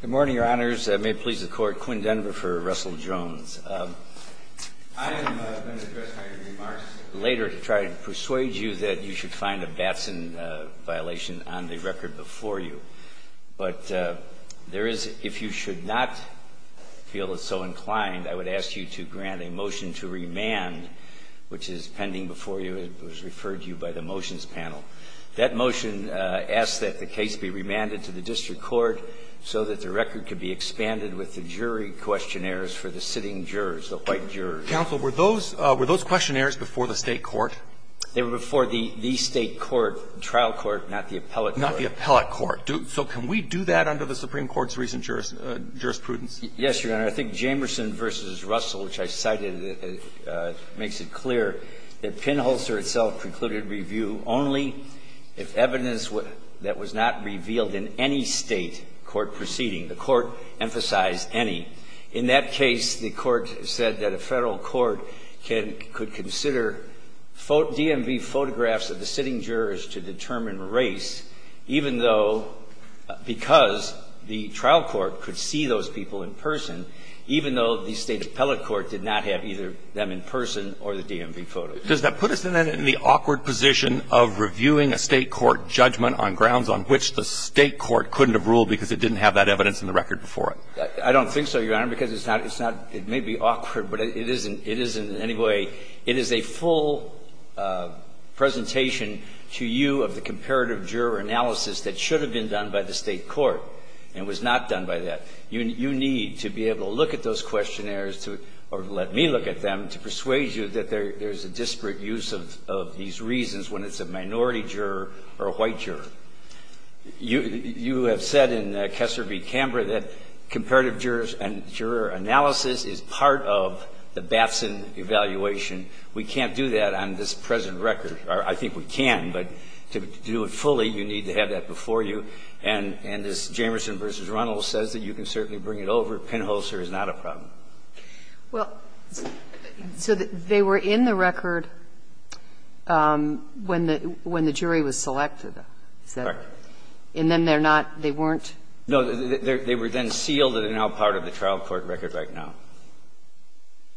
Good morning, Your Honors. May it please the Court, Quinn Denver for Russell Jones. I am going to address my remarks later to try to persuade you that you should find a Batson violation on the record before you. But there is, if you should not feel so inclined, I would ask you to grant a motion to remand, which is pending before you. It was referred to you by the motions panel. That motion asks that the case be remanded to the district court so that the record could be expanded with the jury questionnaires for the sitting jurors, the white jurors. Counsel, were those questionnaires before the State court? They were before the State court, trial court, not the appellate court. Not the appellate court. So can we do that under the Supreme Court's recent jurisprudence? Yes, Your Honor. I think Jamerson v. Russell, which I cited, makes it clear that Pinholzer itself concluded review only if evidence that was not revealed in any State court proceeding. The court emphasized any. In that case, the court said that a Federal court could consider DMV photographs of the sitting jurors to determine race, even though because the trial court could see those people in person, even though the State appellate court did not have either them in person or the DMV photos. Does that put us, then, in the awkward position of reviewing a State court judgment on grounds on which the State court couldn't have ruled because it didn't have that evidence in the record before it? I don't think so, Your Honor, because it's not – it's not – it may be awkward, but it isn't – it isn't in any way – it is a full presentation to you of the comparative juror analysis that should have been done by the State court and was not done by that. You need to be able to look at those questionnaires or let me look at them to persuade you that there's a disparate use of these reasons when it's a minority juror or a white juror. You have said in Kessler v. Camber that comparative jurors and juror analysis is part of the Batson evaluation. We can't do that on this present record. I think we can, but to do it fully, you need to have that before you. And as Jamerson v. Runnell says, that you can certainly bring it over. Penholster is not a problem. Well, so they were in the record when the jury was selected, is that right? Correct. And then they're not – they weren't? No. They were then sealed and are now part of the trial court record right now.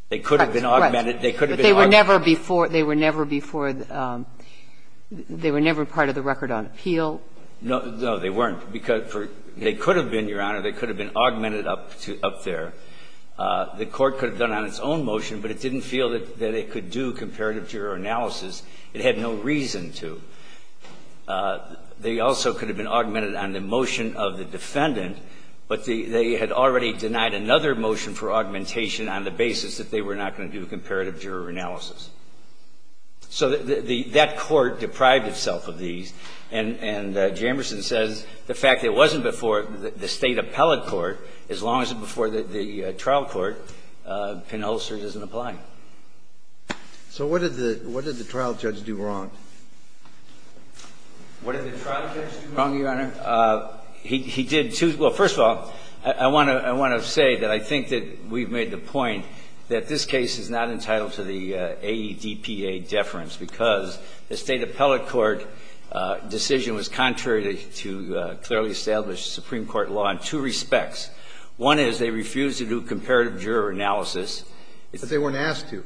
Correct. They could have been augmented. But they were never before – they were never before – they were never part of the record on appeal? No. No, they weren't. They could have been, Your Honor, they could have been augmented up there. The court could have done it on its own motion, but it didn't feel that it could do comparative juror analysis. It had no reason to. They also could have been augmented on the motion of the defendant, but they had already denied another motion for augmentation on the basis that they were not going to do comparative juror analysis. So that court deprived itself of these. And Jamerson says the fact that it wasn't before the State appellate court, as long as it was before the trial court, Penholster doesn't apply. So what did the trial judge do wrong? What did the trial judge do wrong, Your Honor? He did two – well, first of all, I want to say that I think that we've made the claim to the AEDPA deference, because the State appellate court decision was contrary to clearly established Supreme Court law in two respects. One is they refused to do comparative juror analysis. But they weren't asked to.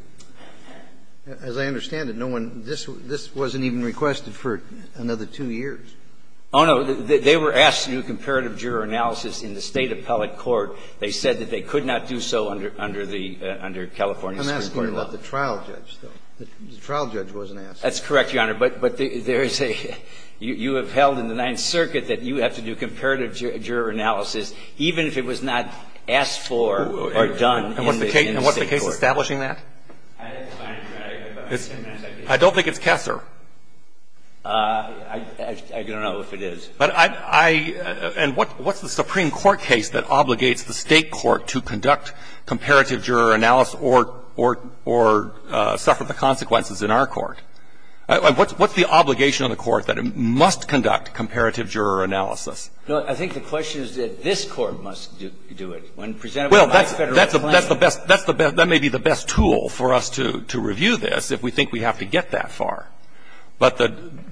As I understand it, no one – this wasn't even requested for another two years. Oh, no. They were asked to do comparative juror analysis in the State appellate court. I'm asking about the trial judge, though. The trial judge wasn't asked. That's correct, Your Honor. But there is a – you have held in the Ninth Circuit that you have to do comparative juror analysis even if it was not asked for or done in the State court. And what's the case establishing that? I don't think it's Kessler. I don't know if it is. But I – and what's the Supreme Court case that obligates the State court to conduct comparative juror analysis or suffer the consequences in our court? What's the obligation of the court that it must conduct comparative juror analysis? No, I think the question is that this Court must do it. When presented with a non-Federal claim. Well, that's the best – that may be the best tool for us to review this if we think we have to get that far. But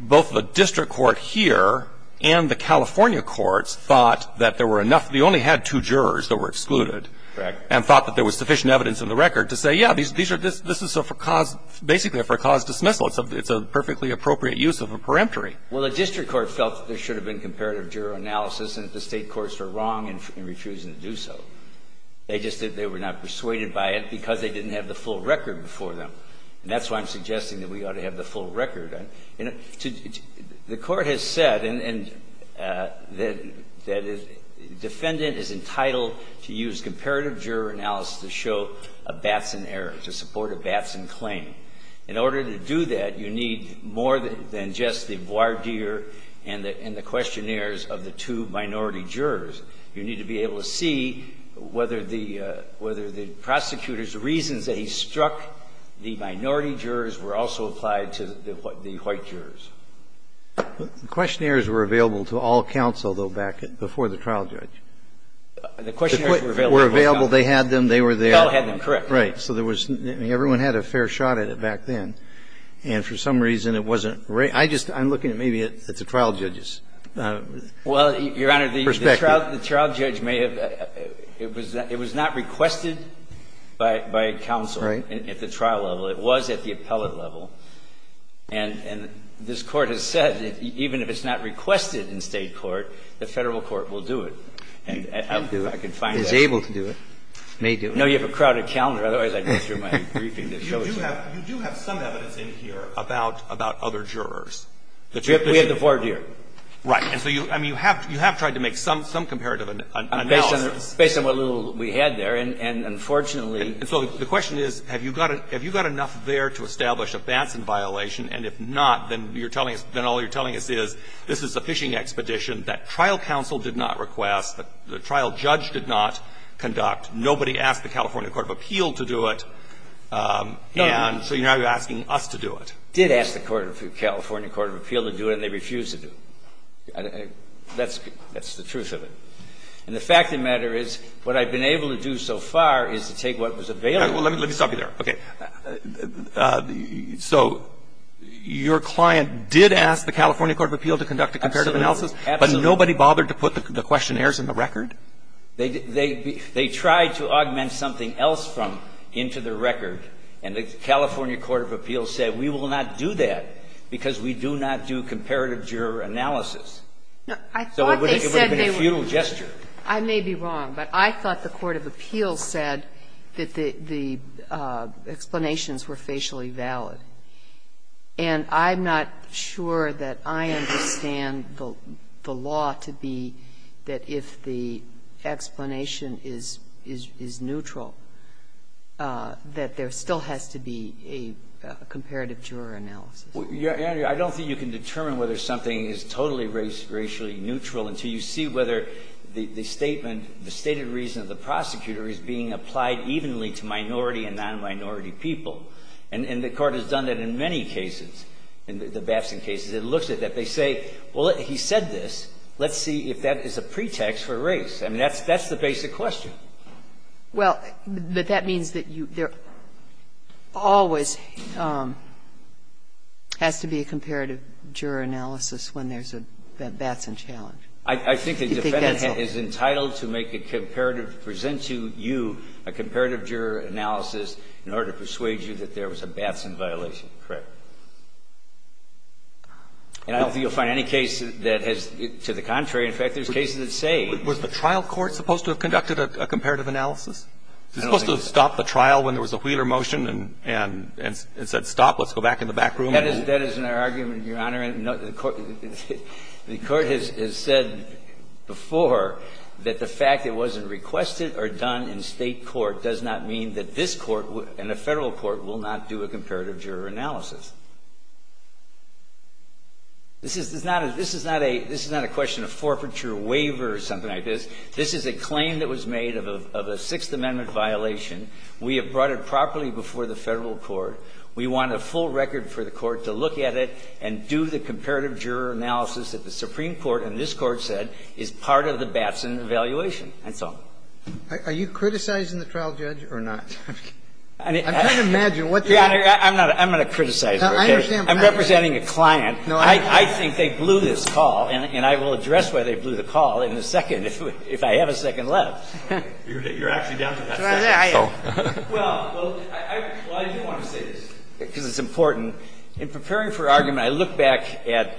both the district court here and the California courts thought that there were enough – they only had two jurors that were excluded. Correct. And thought that there was sufficient evidence in the record to say, yeah, these are – this is a for cause – basically a for cause dismissal. It's a perfectly appropriate use of a peremptory. Well, the district court felt that there should have been comparative juror analysis and that the State courts were wrong in refusing to do so. They just said they were not persuaded by it because they didn't have the full record before them. And that's why I'm suggesting that we ought to have the full record. And to – the Court has said and – that defendant is entitled to use comparative juror analysis to show a Batson error, to support a Batson claim. In order to do that, you need more than just the voir dire and the questionnaires of the two minority jurors. You need to be able to see whether the – whether the prosecutor's reasons that he struck the minority jurors were also applied to the white jurors. The questionnaires were available to all counsel, though, back before the trial judge. The questionnaires were available to all counsel. They were available. They had them. They were there. The fellow had them. Correct. Right. So there was – I mean, everyone had a fair shot at it back then. And for some reason, it wasn't – I just – I'm looking at maybe at the trial judge's perspective. Well, Your Honor, the trial judge may have – it was not requested by counsel. Right. At the trial level. It was at the appellate level. And this Court has said that even if it's not requested in State court, the Federal court will do it. It may do it. I can find that. It is able to do it. It may do it. No, you have a crowded calendar. Otherwise, I'd go through my briefing that shows you. You do have some evidence in here about other jurors. We have the voir dire. Right. And so you – I mean, you have tried to make some comparative analysis. Based on what little we had there. And unfortunately – And so the question is, have you got – have you got enough there to establish a Batson violation? And if not, then you're telling us – then all you're telling us is this is a fishing expedition that trial counsel did not request, that the trial judge did not conduct. Nobody asked the California court of appeal to do it. And so now you're asking us to do it. Did ask the California court of appeal to do it, and they refused to do it. That's the truth of it. And the fact of the matter is, what I've been able to do so far is to take what was available. Let me stop you there. Okay. So your client did ask the California court of appeal to conduct a comparative analysis. Absolutely. But nobody bothered to put the questionnaires in the record? They tried to augment something else from – into the record. And the California court of appeal said, we will not do that, because we do not do comparative juror analysis. No. I thought they said they would. So it would have been a futile gesture. I may be wrong, but I thought the court of appeal said that the explanations were facially valid. And I'm not sure that I understand the law to be that if the explanation is neutral, that there still has to be a comparative juror analysis. I don't think you can determine whether something is totally racially neutral until you see whether the statement, the stated reason of the prosecutor is being applied evenly to minority and nonminority people. And the Court has done that in many cases. In the Babson cases, it looks at that. They say, well, he said this. Let's see if that is a pretext for race. I mean, that's the basic question. Well, but that means that there always has to be a comparative juror analysis when there's a Babson challenge. I think the defendant is entitled to make a comparative to present to you a comparative juror analysis in order to persuade you that there was a Babson violation. Correct. And I don't think you'll find any case that has to the contrary. In fact, there's cases that say. Was the trial court supposed to have conducted a comparative analysis? Was it supposed to have stopped the trial when there was a Wheeler motion and said stop, let's go back in the back room? That is not an argument, Your Honor. The Court has said before that the fact it wasn't requested or done in State court does not mean that this Court and a Federal court will not do a comparative juror analysis. This is not a question of forfeiture, waiver, or something like this. This is a claim that was made of a Sixth Amendment violation. We have brought it properly before the Federal court. We want a full record for the court to look at it and do the comparative juror analysis that the Supreme Court and this Court said is part of the Babson evaluation. That's all. Are you criticizing the trial judge or not? I'm trying to imagine what you're saying. I'm going to criticize you. I'm representing a client. I think they blew this call, and I will address why they blew the call in a second if I have a second left. You're actually down to that second. Well, I do want to say this, because it's important. In preparing for argument, I look back at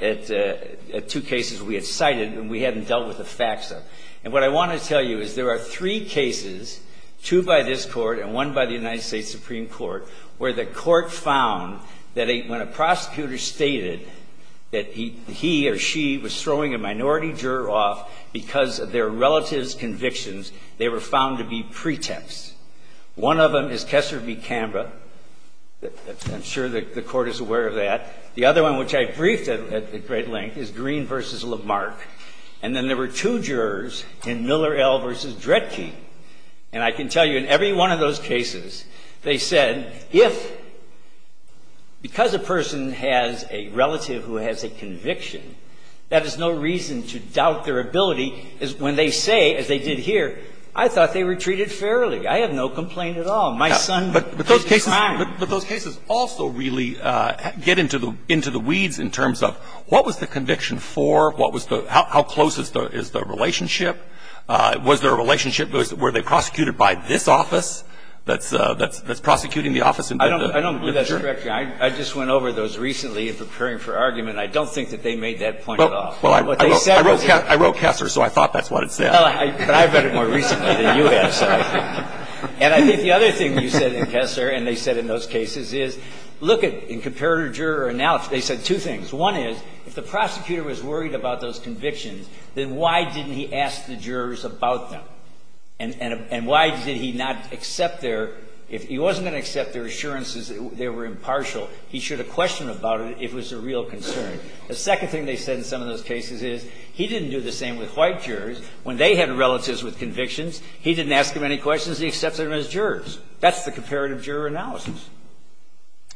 two cases we had cited and we hadn't dealt with the facts of. And what I want to tell you is there are three cases, two by this Court and one by the United States Supreme Court, where the Court found that when a prosecutor stated that he or she was throwing a minority juror off because of their relative's convictions, they were found to be pretexts. One of them is Kessler v. Canberra. I'm sure the Court is aware of that. The other one, which I briefed at great length, is Green v. Lamarck. And then there were two jurors in Miller L. v. Dredke. And I can tell you, in every one of those cases, they said, if, because a person has a relative who has a conviction, that is no reason to doubt their ability when they say, as they did here, I thought they were treated fairly. I have no complaint at all. My son is a crime. But those cases also really get into the weeds in terms of what was the conviction for, what was the – how close is the relationship? Was there a relationship? Were they prosecuted by this office that's prosecuting the office? I don't believe that's correct, Your Honor. I just went over those recently in preparing for argument. I don't think that they made that point at all. Well, I wrote Kessler, so I thought that's what it said. Well, I read it more recently than you have. And I think the other thing you said in Kessler and they said in those cases is, look, in comparative juror analysis, they said two things. One is, if the prosecutor was worried about those convictions, then why didn't he ask the jurors about them? And why did he not accept their – if he wasn't going to accept their assurances that they were impartial, he should have questioned about it if it was a real concern. The second thing they said in some of those cases is, he didn't do the same with white jurors. When they had relatives with convictions, he didn't ask them any questions. He accepted them as jurors. That's the comparative juror analysis.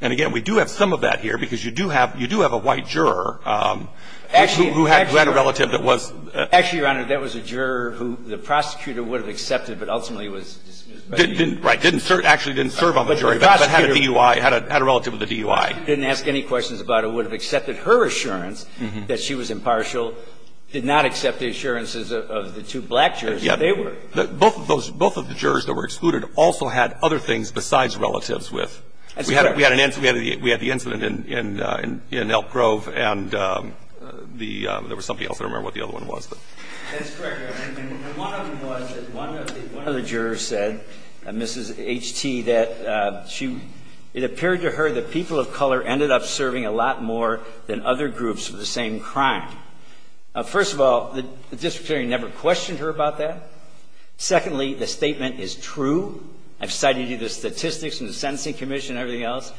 And, again, we do have some of that here, because you do have a white juror who had a relative that was – Actually, Your Honor, that was a juror who the prosecutor would have accepted, but ultimately was dismissed. Right. Didn't serve – actually didn't serve on the jury bench, but had a DUI, had a relative with a DUI. Didn't ask any questions about it, would have accepted her assurance that she was impartial, did not accept the assurances of the two black jurors that they were. Both of those – both of the jurors that were excluded also had other things besides relatives with – That's correct. We had an – we had the incident in Elk Grove and the – there was somebody else. I don't remember what the other one was, but – That's correct, Your Honor. And one of them was that one of the – one of the jurors said, Mrs. H.T., that she – it appeared to her that people of color ended up serving a lot more than other groups for the same crime. First of all, the district attorney never questioned her about that. Secondly, the statement is true. I've cited you the statistics from the Sentencing Commission and everything else.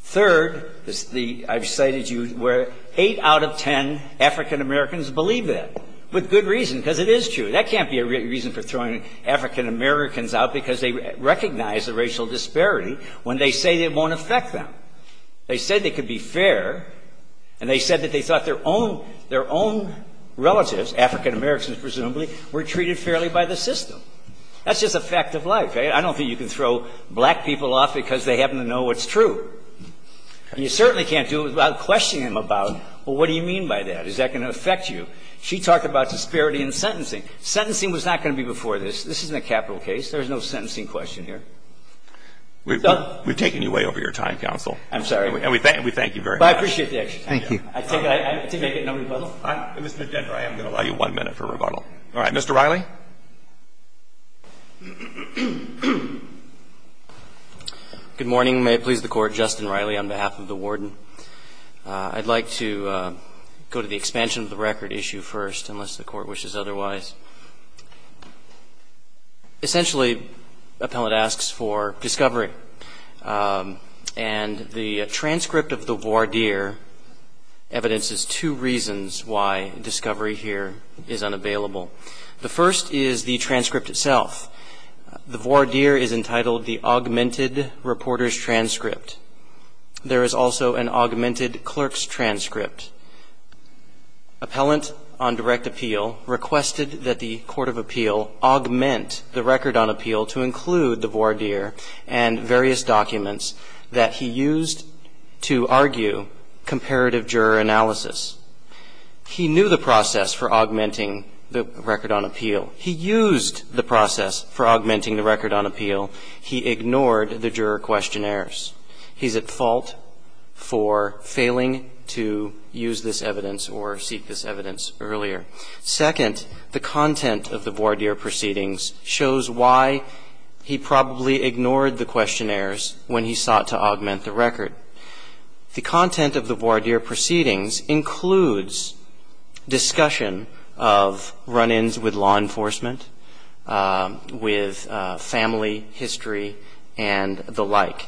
Third, the – I've cited you where 8 out of 10 African-Americans believe that, with good reason, because it is true. That can't be a reason for throwing African-Americans out because they recognize the racial disparity when they say it won't affect them. They said they could be fair, and they said that they thought their own – their own relatives, African-Americans presumably, were treated fairly by the system. That's just a fact of life. I don't think you can throw black people off because they happen to know what's true. And you certainly can't do it without questioning them about, well, what do you mean by that? Is that going to affect you? She talked about disparity in sentencing. Sentencing was not going to be before this. This isn't a capital case. There is no sentencing question here. So – We've taken you way over your time, counsel. I'm sorry. And we thank you very much. Well, I appreciate the extra time. Thank you. I think I get no rebuttal. Mr. Dendra, I am going to allow you one minute for rebuttal. All right. Mr. Riley? Good morning. May it please the Court, Justin Riley on behalf of the Warden. I'd like to go to the expansion of the record issue first, unless the Court wishes otherwise. Essentially, appellate asks for discovery. And the transcript of the voir dire evidences two reasons why discovery here is unavailable. The first is the transcript itself. The voir dire is entitled the augmented reporter's transcript. There is also an augmented clerk's transcript. Appellant on direct appeal requested that the Court of Appeal augment the record on appeal to include the voir dire and various documents that he used to argue comparative juror analysis. He knew the process for augmenting the record on appeal. He used the process for augmenting the record on appeal. He ignored the juror questionnaires. He's at fault for failing to use this evidence or seek this evidence earlier. Second, the content of the voir dire proceedings shows why he probably ignored the questionnaires when he sought to augment the record. The content of the voir dire proceedings includes discussion of run-ins with law enforcement, with family history and the like.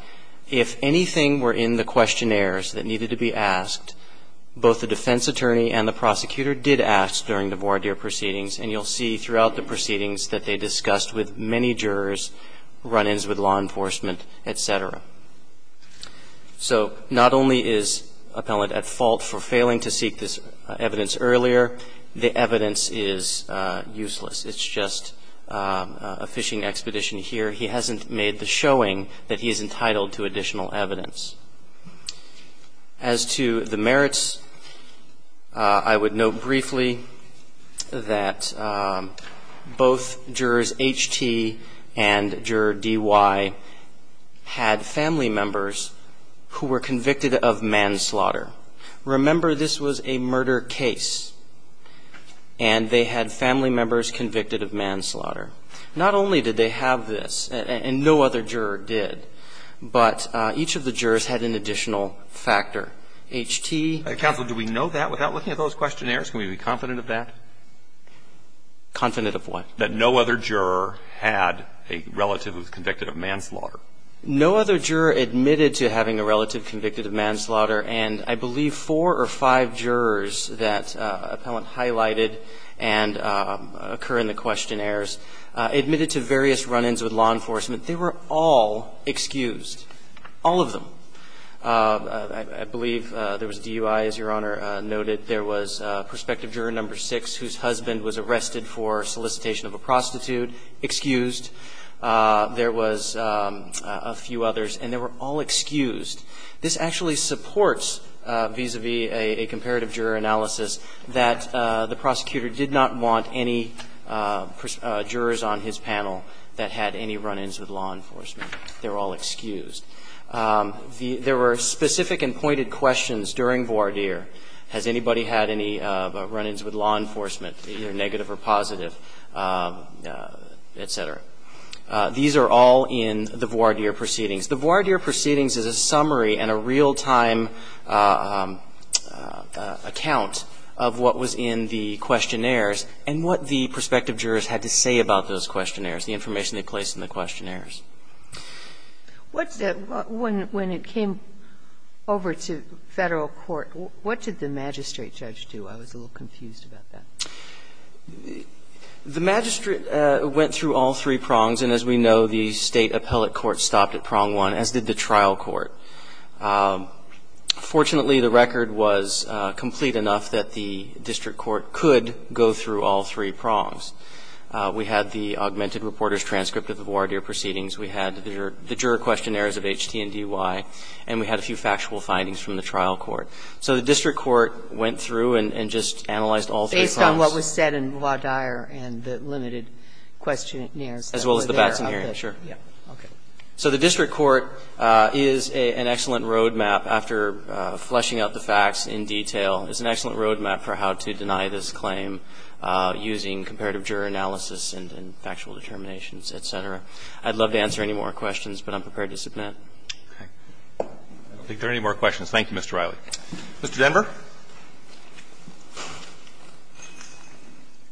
If anything were in the questionnaires that needed to be asked, both the defense attorney and the prosecutor did ask during the voir dire proceedings, and you'll see throughout the proceedings that they discussed with many jurors run-ins with law enforcement, et cetera. So not only is Appellant at fault for failing to seek this evidence earlier, the evidence is useless. It's just a fishing expedition here. He hasn't made the showing that he is entitled to additional evidence. As to the merits, I would note briefly that both jurors H.T. and juror D.Y. had family members who were convicted of manslaughter. Remember, this was a murder case, and they had family members convicted of manslaughter. Not only did they have this, and no other juror did, but each of the jurors had an additional factor. H.T. Counsel, do we know that without looking at those questionnaires? Can we be confident of that? Confident of what? That no other juror had a relative who was convicted of manslaughter. No other juror admitted to having a relative convicted of manslaughter, and I believe four or five jurors that Appellant highlighted and occur in the questionnaires admitted to various run-ins with law enforcement. They were all excused, all of them. I believe there was D.Y., as Your Honor noted. There was prospective juror number six whose husband was arrested for solicitation of a prostitute, excused. There was a few others, and they were all excused. This actually supports vis-à-vis a comparative juror analysis that the prosecutor did not want any jurors on his panel that had any run-ins with law enforcement. They were all excused. There were specific and pointed questions during voir dire. Has anybody had any run-ins with law enforcement, either negative or positive, et cetera? These are all in the voir dire proceedings. The voir dire proceedings is a summary and a real-time account of what was in the questionnaires and what the prospective jurors had to say about those questionnaires, the information they placed in the questionnaires. When it came over to Federal court, what did the magistrate judge do? I was a little confused about that. The magistrate went through all three prongs, and as we know, the State appellate court stopped at prong one, as did the trial court. Fortunately, the record was complete enough that the district court could go through all three prongs. We had the augmented reporter's transcript of the voir dire proceedings. We had the juror questionnaires of H.T. and D.Y., and we had a few factual findings from the trial court. So the district court went through and just analyzed all three prongs. Based on what was said in voir dire and the limited questionnaires. As well as the Batson hearing, sure. Okay. So the district court is an excellent road map, after fleshing out the facts in detail, is an excellent road map for how to deny this claim using comparative juror analysis and factual determinations, et cetera. I'd love to answer any more questions, but I'm prepared to submit. I don't think there are any more questions. Thank you, Mr. Riley. Mr. Denver.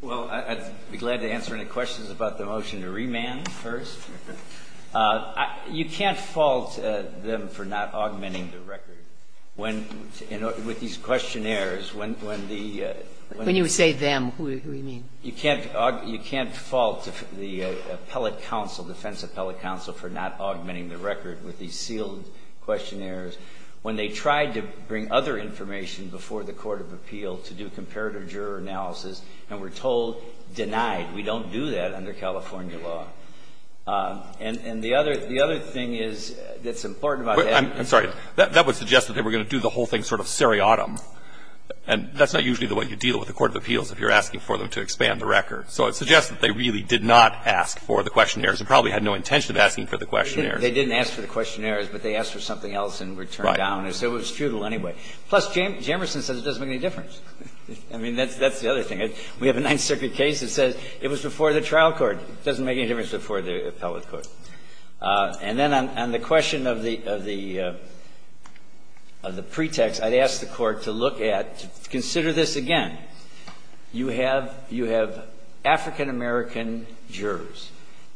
Well, I'd be glad to answer any questions about the motion to remand first. You can't fault them for not augmenting the record. When these questionnaires, when the ---- When you say them, who do you mean? You can't fault the appellate counsel, defense appellate counsel, for not augmenting the record with these sealed questionnaires when they tried to bring other information before the court of appeal to do comparative juror analysis and were told, denied. We don't do that under California law. And the other thing is that's important about that ---- I'm sorry. That would suggest that they were going to do the whole thing sort of seriatim. And that's not usually the way you deal with the court of appeals if you're asking for them to expand the record. So it suggests that they really did not ask for the questionnaires. They probably had no intention of asking for the questionnaires. They didn't ask for the questionnaires, but they asked for something else and were turned down. Right. So it was futile anyway. Plus, Jamerson says it doesn't make any difference. I mean, that's the other thing. We have a Ninth Circuit case that says it was before the trial court. It doesn't make any difference before the appellate court. And then on the question of the pretext, I'd ask the Court to look at, consider this again. You have African-American jurors.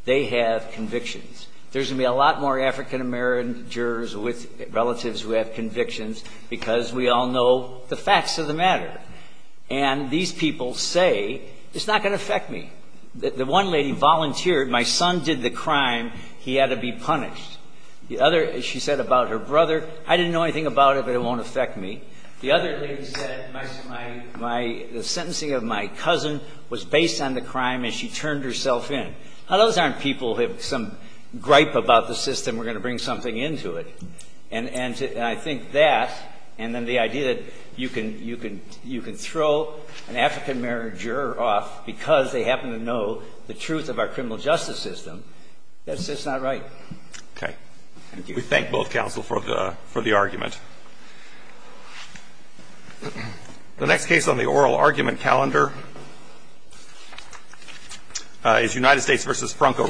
They have convictions. There's going to be a lot more African-American jurors with relatives who have convictions because we all know the facts of the matter. And these people say it's not going to affect me. The one lady volunteered. My son did the crime. He had to be punished. The other, she said about her brother, I didn't know anything about it, but it won't affect me. The other lady said the sentencing of my cousin was based on the crime and she turned herself in. Now, those aren't people who have some gripe about the system. We're going to bring something into it. And I think that, and then the idea that you can throw an African-American juror off because they happen to know the truth of our criminal justice system, that's just not right. Thank you. We thank both counsel for the argument. The next case on the oral argument calendar is United States v. Franco Reyes.